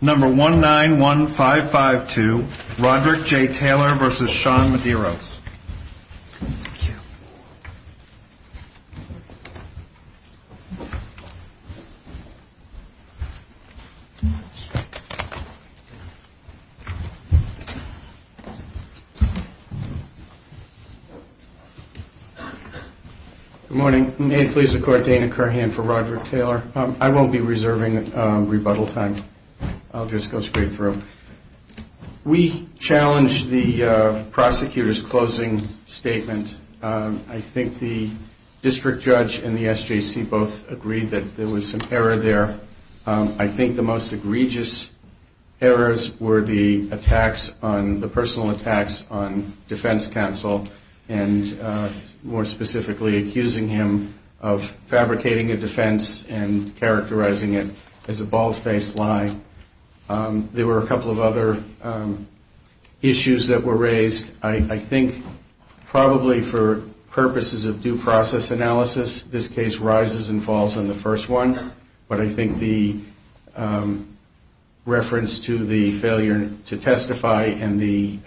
number one nine one five five two Roger J. Taylor versus Sean Medeiros morning may it please the court Dana Kerr hand for Roger Taylor I won't be reserving rebuttal time I'll just go straight through we challenged the prosecutor's closing statement I think the district judge and the SJC both agreed that there was some error there I think the most egregious errors were the attacks on the personal attacks on defense counsel and more specifically accusing him of as a bald-faced lie there were a couple of other issues that were raised I think probably for purposes of due process analysis this case rises and falls on the first one but I think the reference to the failure to testify and the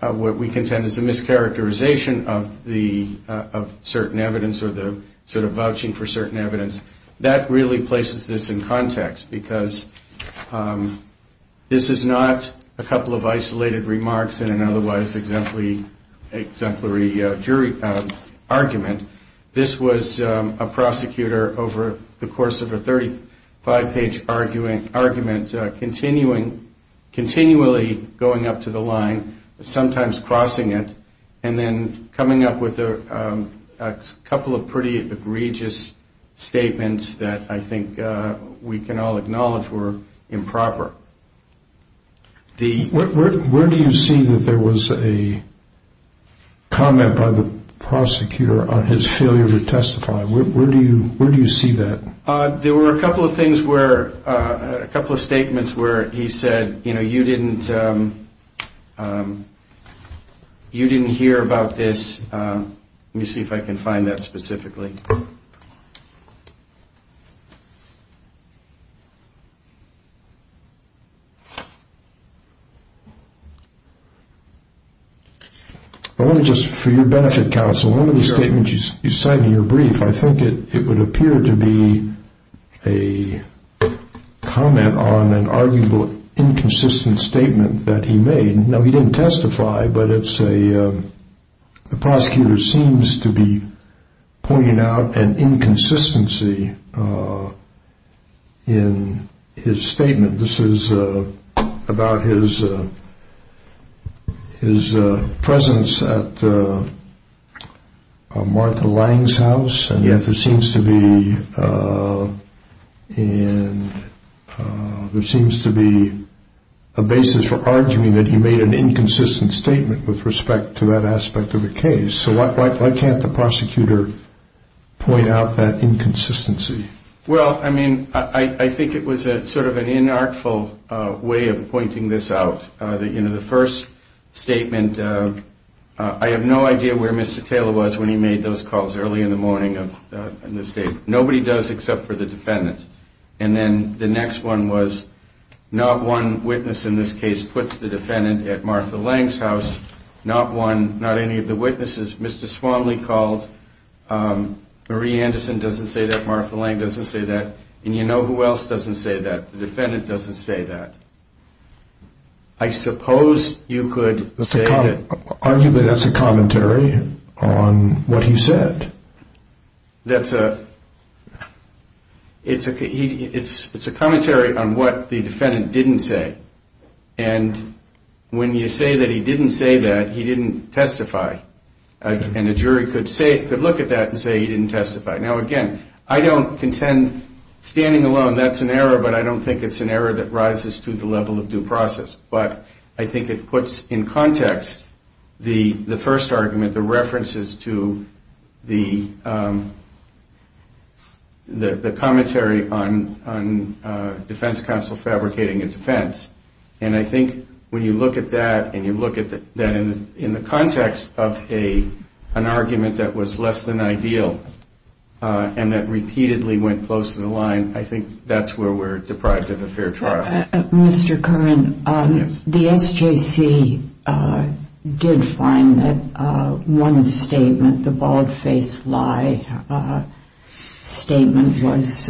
what we contend is a mischaracterization of the of certain evidence or the sort of vouching for certain evidence that really places this in context because this is not a couple of isolated remarks and otherwise exemplary jury argument this was a prosecutor over the course of a 35 page arguing argument continuing continually going up to the line sometimes crossing it and then coming up with a couple of pretty egregious statements that I think we can all acknowledge were improper the where do you see that there was a comment by the prosecutor on his failure to testify where do you see that there were a couple of things were a couple of you see if I can find that specifically just for your benefit counsel of the statement you sign your brief I think it would appear to be a comment on an arguable inconsistent statement that he didn't testify but it's a prosecutor seems to be an inconsistency in his statement this is about his his presence at Martha Lange's house and yet there seems to be a basis for arguing that he made an inconsistent statement with respect to that aspect of the case so why can't the prosecutor point out that inconsistency well I mean I think it was a sort of an inartful way of pointing this out in the first statement I have no idea where Mr. Taylor was when he calls early in the morning nobody does except for the defendant and then the next one was not one witness in this case puts the defendant at Martha Lange's house not one not any of the witnesses Mr. Swanley calls Marie Anderson doesn't say that Martha Lange doesn't say that and you know who else doesn't say that the defendant doesn't say that I suppose you could say that that's a commentary on what he said that's a it's a it's it's a commentary on what the defendant didn't say and when you say that he didn't say that he didn't testify and a jury could say could look at that and say he didn't testify now again I don't contend standing alone that's an error but I don't think it's an error that rises to the level of due process but I think it puts in context the the first argument the references to the the commentary on on defense counsel fabricating a defense and I think when you look at that and you look at that in in the context of a an argument that was less than ideal and that repeatedly went close to the line I think that's where we're deprived of a Mr. Curran the SJC did find that one statement the bald-faced lie statement was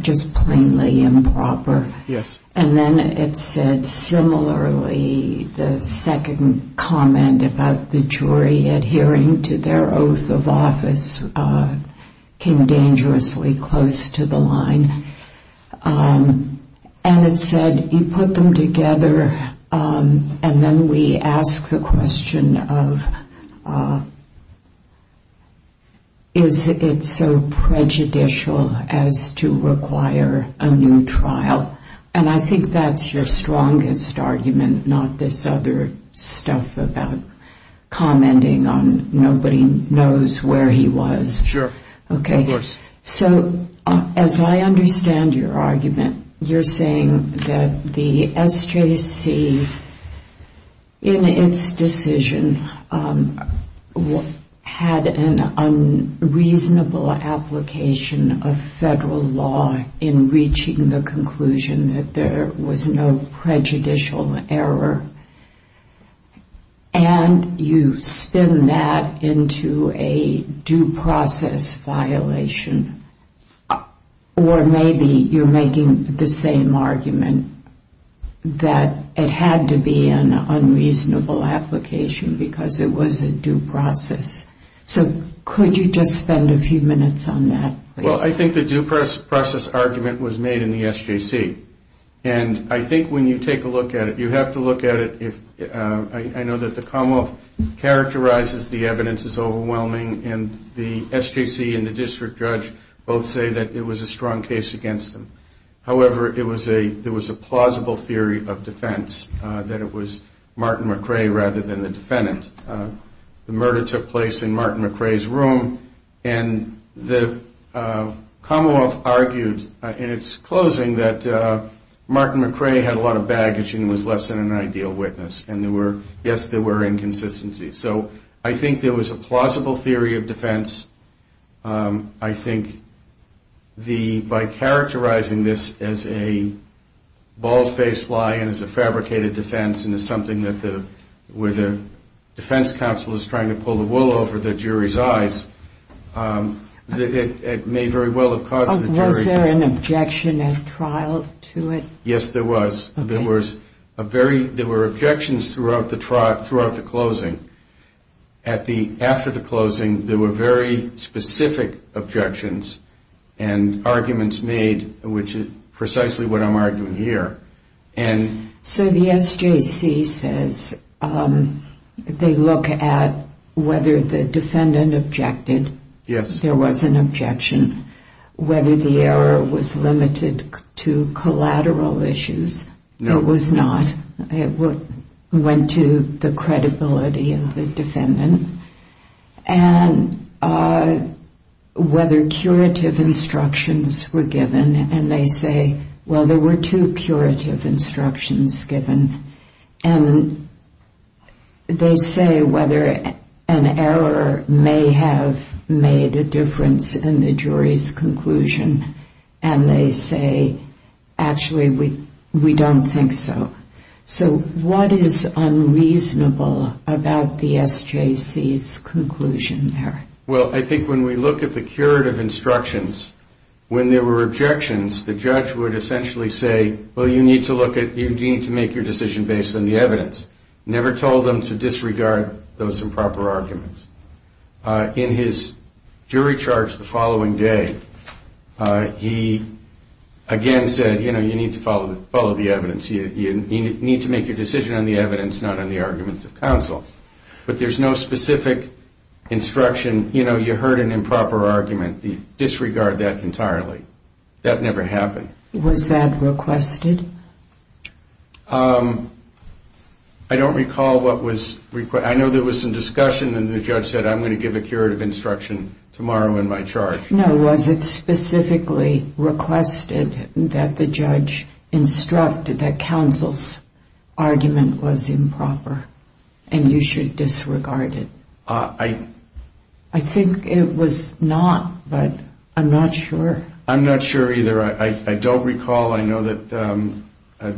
just plainly improper yes and then it said similarly the second comment about the jury adhering to their oath of office came dangerously close to the line and it said you put them together and then we ask the question of is it so prejudicial as to require a new trial and I think that's your strongest argument not this other stuff about commenting on nobody knows where he was sure okay so as I understand your argument you're saying that the SJC in its decision had an unreasonable application of federal law in reaching the conclusion that there was no prejudicial error and you spin that into a due process violation or maybe you're making the same argument that it had to be an unreasonable application because it was a due process so could you just spend a few minutes on that well I think the due process argument was made in the SJC and I think when you take a look at it you have to look at it if I know that the Commonwealth characterizes the evidence is overwhelming and the SJC and the district judge both say that it was a strong case against them however it was a there was a plausible theory of defense that it was Martin McRae rather than the defendant the murder took place in Martin McRae's room and the Commonwealth argued in its closing that Martin McRae had a lot of baggage and was less than an ideal witness and there were yes there were inconsistencies so I think there was a plausible theory of defense I think the by characterizing this as a bald-faced lie and as a fabricated defense and is something that the where the defense counsel is trying to pull the wool over the jury's eyes it may very well have caused an objection and trial to it yes there was there was a very there were objections throughout the trial throughout the closing at the after the closing there were very specific objections and arguments made which is precisely what I'm arguing here and so the SJC says they look at whether the defendant objected yes there was an it was not it went to the credibility of the defendant and whether curative instructions were given and they say well there were two curative instructions given and they say whether an error may have made a difference in the jury's conclusion and they say actually we we don't think so so what is unreasonable about the SJC's conclusion there well I think when we look at the curative instructions when there were objections the judge would essentially say well you need to look at you need to make your decision based on the evidence never told them to disregard those improper arguments in his jury charge the following day he again said you know you need to follow the follow the evidence you need to make your decision on the evidence not on the arguments of counsel but there's no specific instruction you know you heard an improper argument the disregard that entirely that never happened was that requested I don't recall what was required I know there was some discussion and the judge said I'm going to give a curative instruction tomorrow in my charge no was it specifically requested that the judge instructed that counsel's argument was improper and you should disregard it I I think it was not but I'm not sure I'm not sure either I don't recall I know that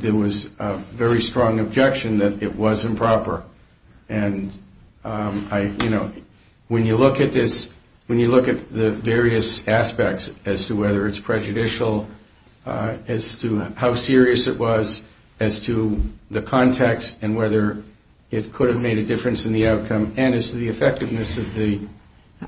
there was a very strong objection that it was improper and I you know when you look at this when you look at the various aspects as to whether it's prejudicial as to how serious it was as to the context and whether it could have made a difference in the outcome and as to the effectiveness of the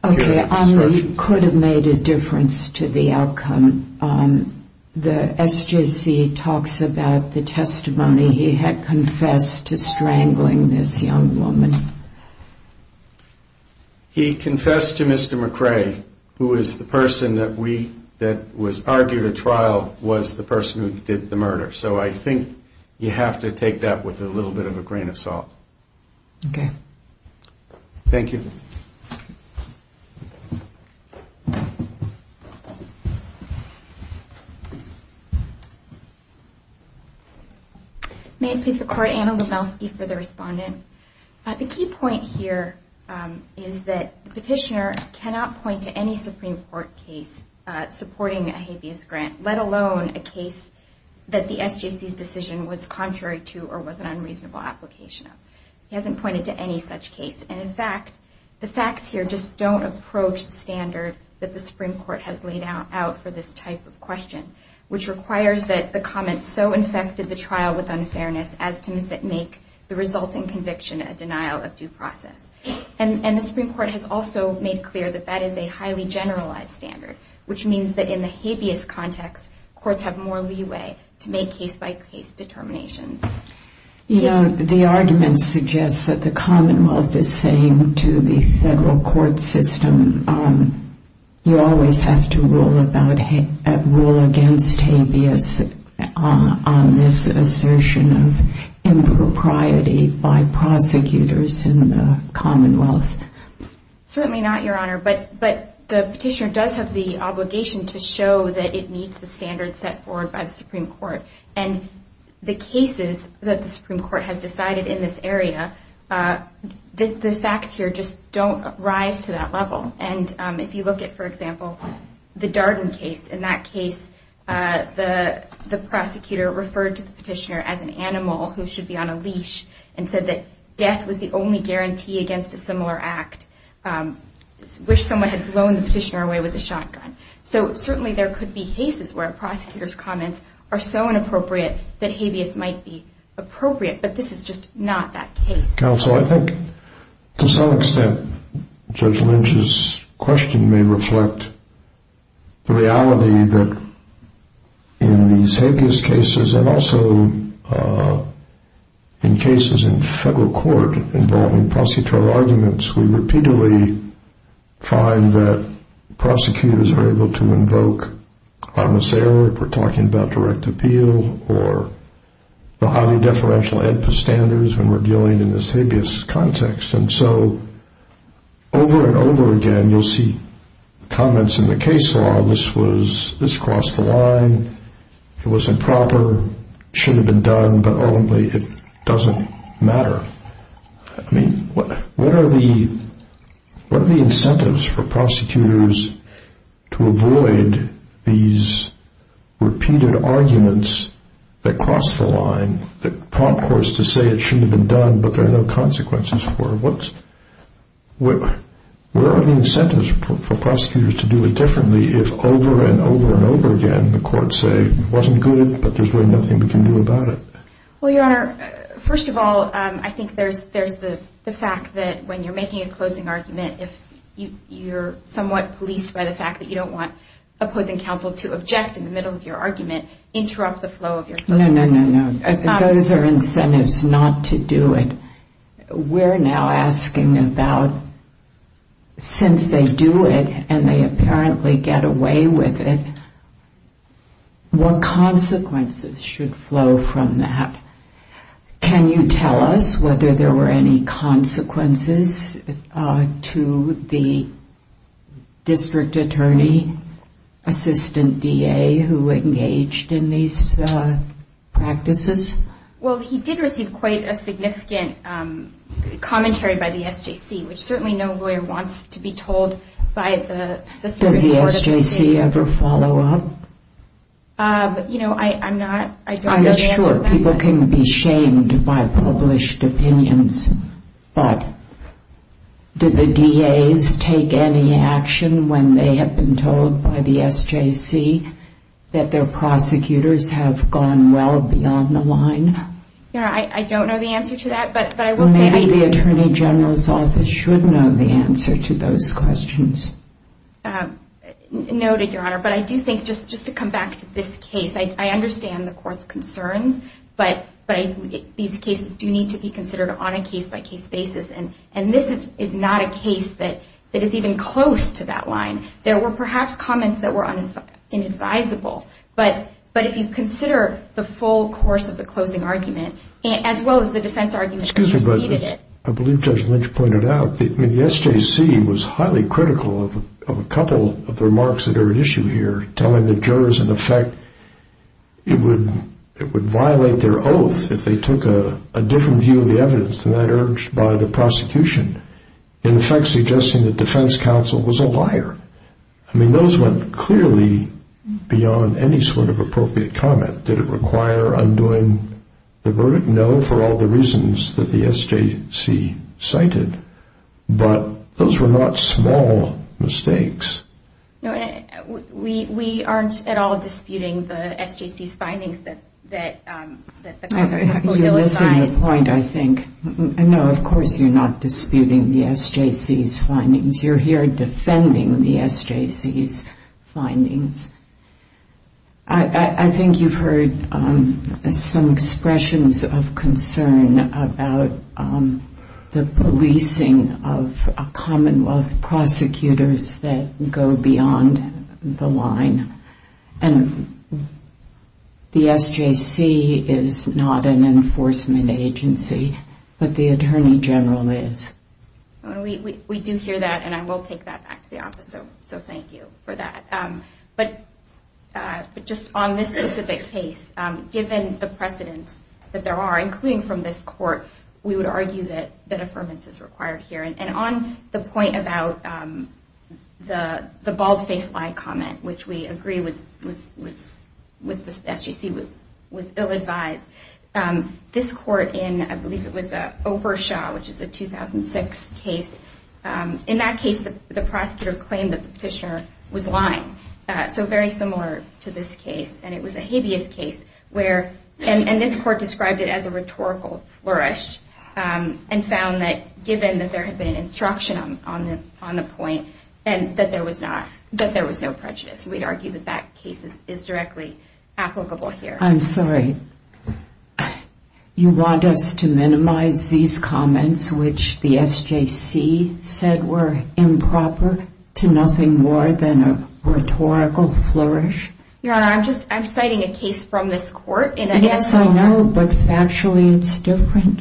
okay I could have made a difference to the outcome the SJC talks about the testimony he had confess to strangling this young woman he confessed to mr. McRae who is the person that we that was argued a trial was the person who did the murder so I think you have to take that with a little bit of a grain of salt okay thank you maybe support Anna Lubecki for the respondent at the key point here is that petitioner cannot point to any Supreme Court case supporting a habeas grant let alone a case that the SJC's decision was contrary to or was an unreasonable application of he hasn't pointed to any such case and in fact the facts here just don't approach the standard that the Supreme Court has laid out out for this type of question which requires that the comments so infected the trial with unfairness as to miss it make the resulting conviction a denial of due process and and the Supreme Court has also made clear that that is a highly generalized standard which means that in the habeas context courts have more you know the argument suggests that the Commonwealth is saying to the federal court system you always have to rule about a rule against habeas on this assertion of impropriety by prosecutors in the Commonwealth certainly not your honor but but the petitioner does have the obligation to show that it meets the Supreme Court and the cases that the Supreme Court has decided in this area the facts here just don't rise to that level and if you look at for example the Darden case in that case the prosecutor referred to the petitioner as an animal who should be on a leash and said that death was the only guarantee against a similar act wish someone had blown the petitioner away with a shotgun so certainly there could be cases where prosecutors comments are so inappropriate that habeas might be appropriate but this is just not that case counsel I think to some extent judge Lynch's question may reflect the reality that in these habeas cases and also in cases in federal court involving I'm a sailor we're talking about direct appeal or the highly deferential Edpa standards when we're dealing in this habeas context and so over and over again you'll see comments in the case law this was this crossed the line it was improper should have been done but only it doesn't matter I mean what what are the what are the incentives for prosecutors to avoid these repeated arguments that cross the line that prompt course to say it should have been done but there are no consequences for what's what where are the incentives for prosecutors to do it differently if over and over and over again the court say wasn't good but there's really nothing we can do about it well your honor first of all I think there's there's the fact that when you're making a closing argument if you you're somewhat policed by the fact that you don't want opposing counsel to object in the middle of your argument interrupt the flow of your no no no no those are incentives not to do it we're now asking about since they do it and they apparently get away with it what consequences should flow from that can you tell us whether there were any consequences to the district attorney assistant DA who engaged in these practices well he did receive quite a significant commentary by the SJC which certainly no lawyer wants to be told by the SJC ever follow up you know I I'm not sure people can be shamed by published opinions but did the DA's take any action when they have been told by the SJC that their prosecutors have gone well beyond the line yeah I don't know the answer to that but I will maybe the Attorney General's office should know the answer to those questions noted your honor but I do think just just to come back to this case I understand the court's concerns but but I these cases do need to be considered on a case-by-case basis and and this is not a case that it is even close to that line there were perhaps comments that were inadvisable but but if you consider the full course of the closing argument as well as the defense argument I believe judge Lynch pointed out the SJC was highly critical of a couple of remarks that are an issue here telling the jurors in effect it would it would violate their oath if they took a different view of the evidence than that urged by the prosecution in effect suggesting that defense counsel was a liar I mean those went clearly beyond any sort of the reasons that the SJC cited but those were not small mistakes we aren't at all disputing the SJC's findings that point I think I know of course you're not disputing the SJC's findings you're here defending the SJC's findings I think you've heard some expressions of concern about the policing of Commonwealth prosecutors that go beyond the line and the SJC is not an enforcement agency but the Attorney General is we do hear that and I will take that back to the office so so thank you for that but but just on this specific case given the precedence that there are including from this court we would argue that that affirmance is required here and on the point about the the bald-faced lie comment which we agree was with the SJC was ill-advised this court in I believe it was a Obershaw which is a 2006 case in that case the prosecutor claimed that the petitioner was lying so very similar to this case and it was a habeas case where and this court described it as a rhetorical flourish and found that given that there had been instruction on the on the point and that there was not that there was no prejudice we'd argue that that case is directly applicable here I'm sorry you want us to minimize these improper to nothing more than a rhetorical flourish yeah I'm just I'm citing a case from this court and I guess I know but actually it's different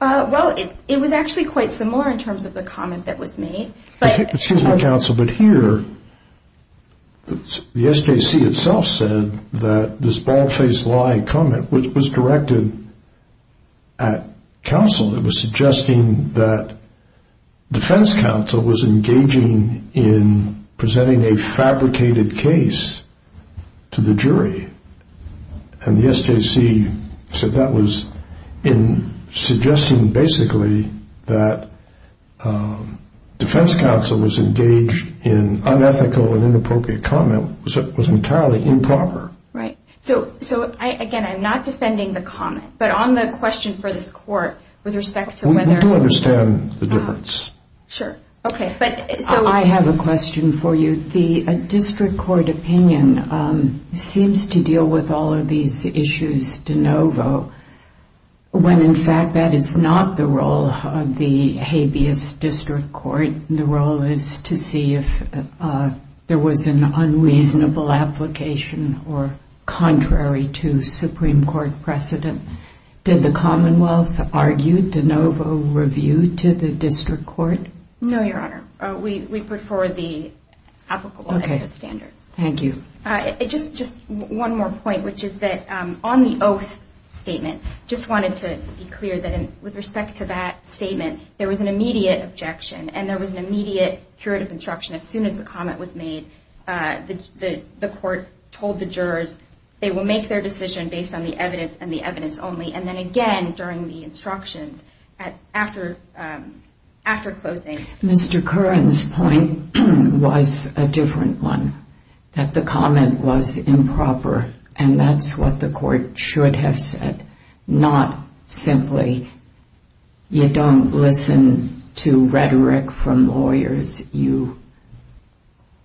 well it was actually quite similar in terms of the comment that was made but excuse me counsel but here the SJC itself said that this bald-faced lie comment which was directed at counsel it was suggesting that defense counsel was engaging in presenting a fabricated case to the jury and the SJC said that was in suggesting basically that defense counsel was engaged in unethical and I'm not defending the comment but on the question for this court with respect to whether I understand the difference sure okay but I have a question for you the district court opinion seems to deal with all of these issues de novo when in fact that is not the role of the habeas district court the role is to see if there was an unreasonable application or contrary to Supreme Court precedent did the Commonwealth argued de novo review to the district court no your honor we put forward the applicable standards thank you it just just one more point which is that on the oath statement just wanted to be clear that with respect to that statement there was an immediate objection and there was an the court told the jurors they will make their decision based on the evidence and the evidence only and then again during the instructions after after closing mr. Curran's point was a different one that the comment was improper and that's what the court should have said not simply you don't listen to rhetoric from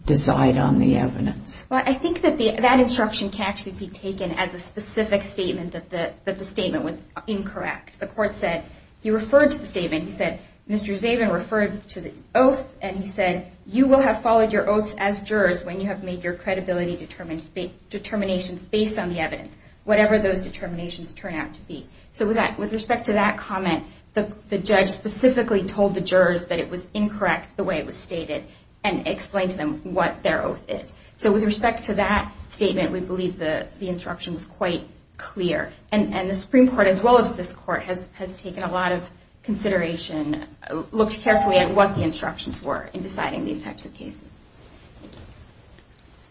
decide on the evidence well I think that the that instruction can actually be taken as a specific statement that the that the statement was incorrect the court said he referred to the statement he said mr. Zabin referred to the oath and he said you will have followed your oaths as jurors when you have made your credibility determined speak determinations based on the evidence whatever those determinations turn out to be so with that with respect to that comment the judge specifically told the jurors that it was incorrect the way it and explain to them what their oath is so with respect to that statement we believe that the instruction was quite clear and and the Supreme Court as well as this court has has taken a lot of consideration looked carefully at what the instructions were in deciding these types of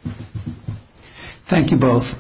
cases thank you both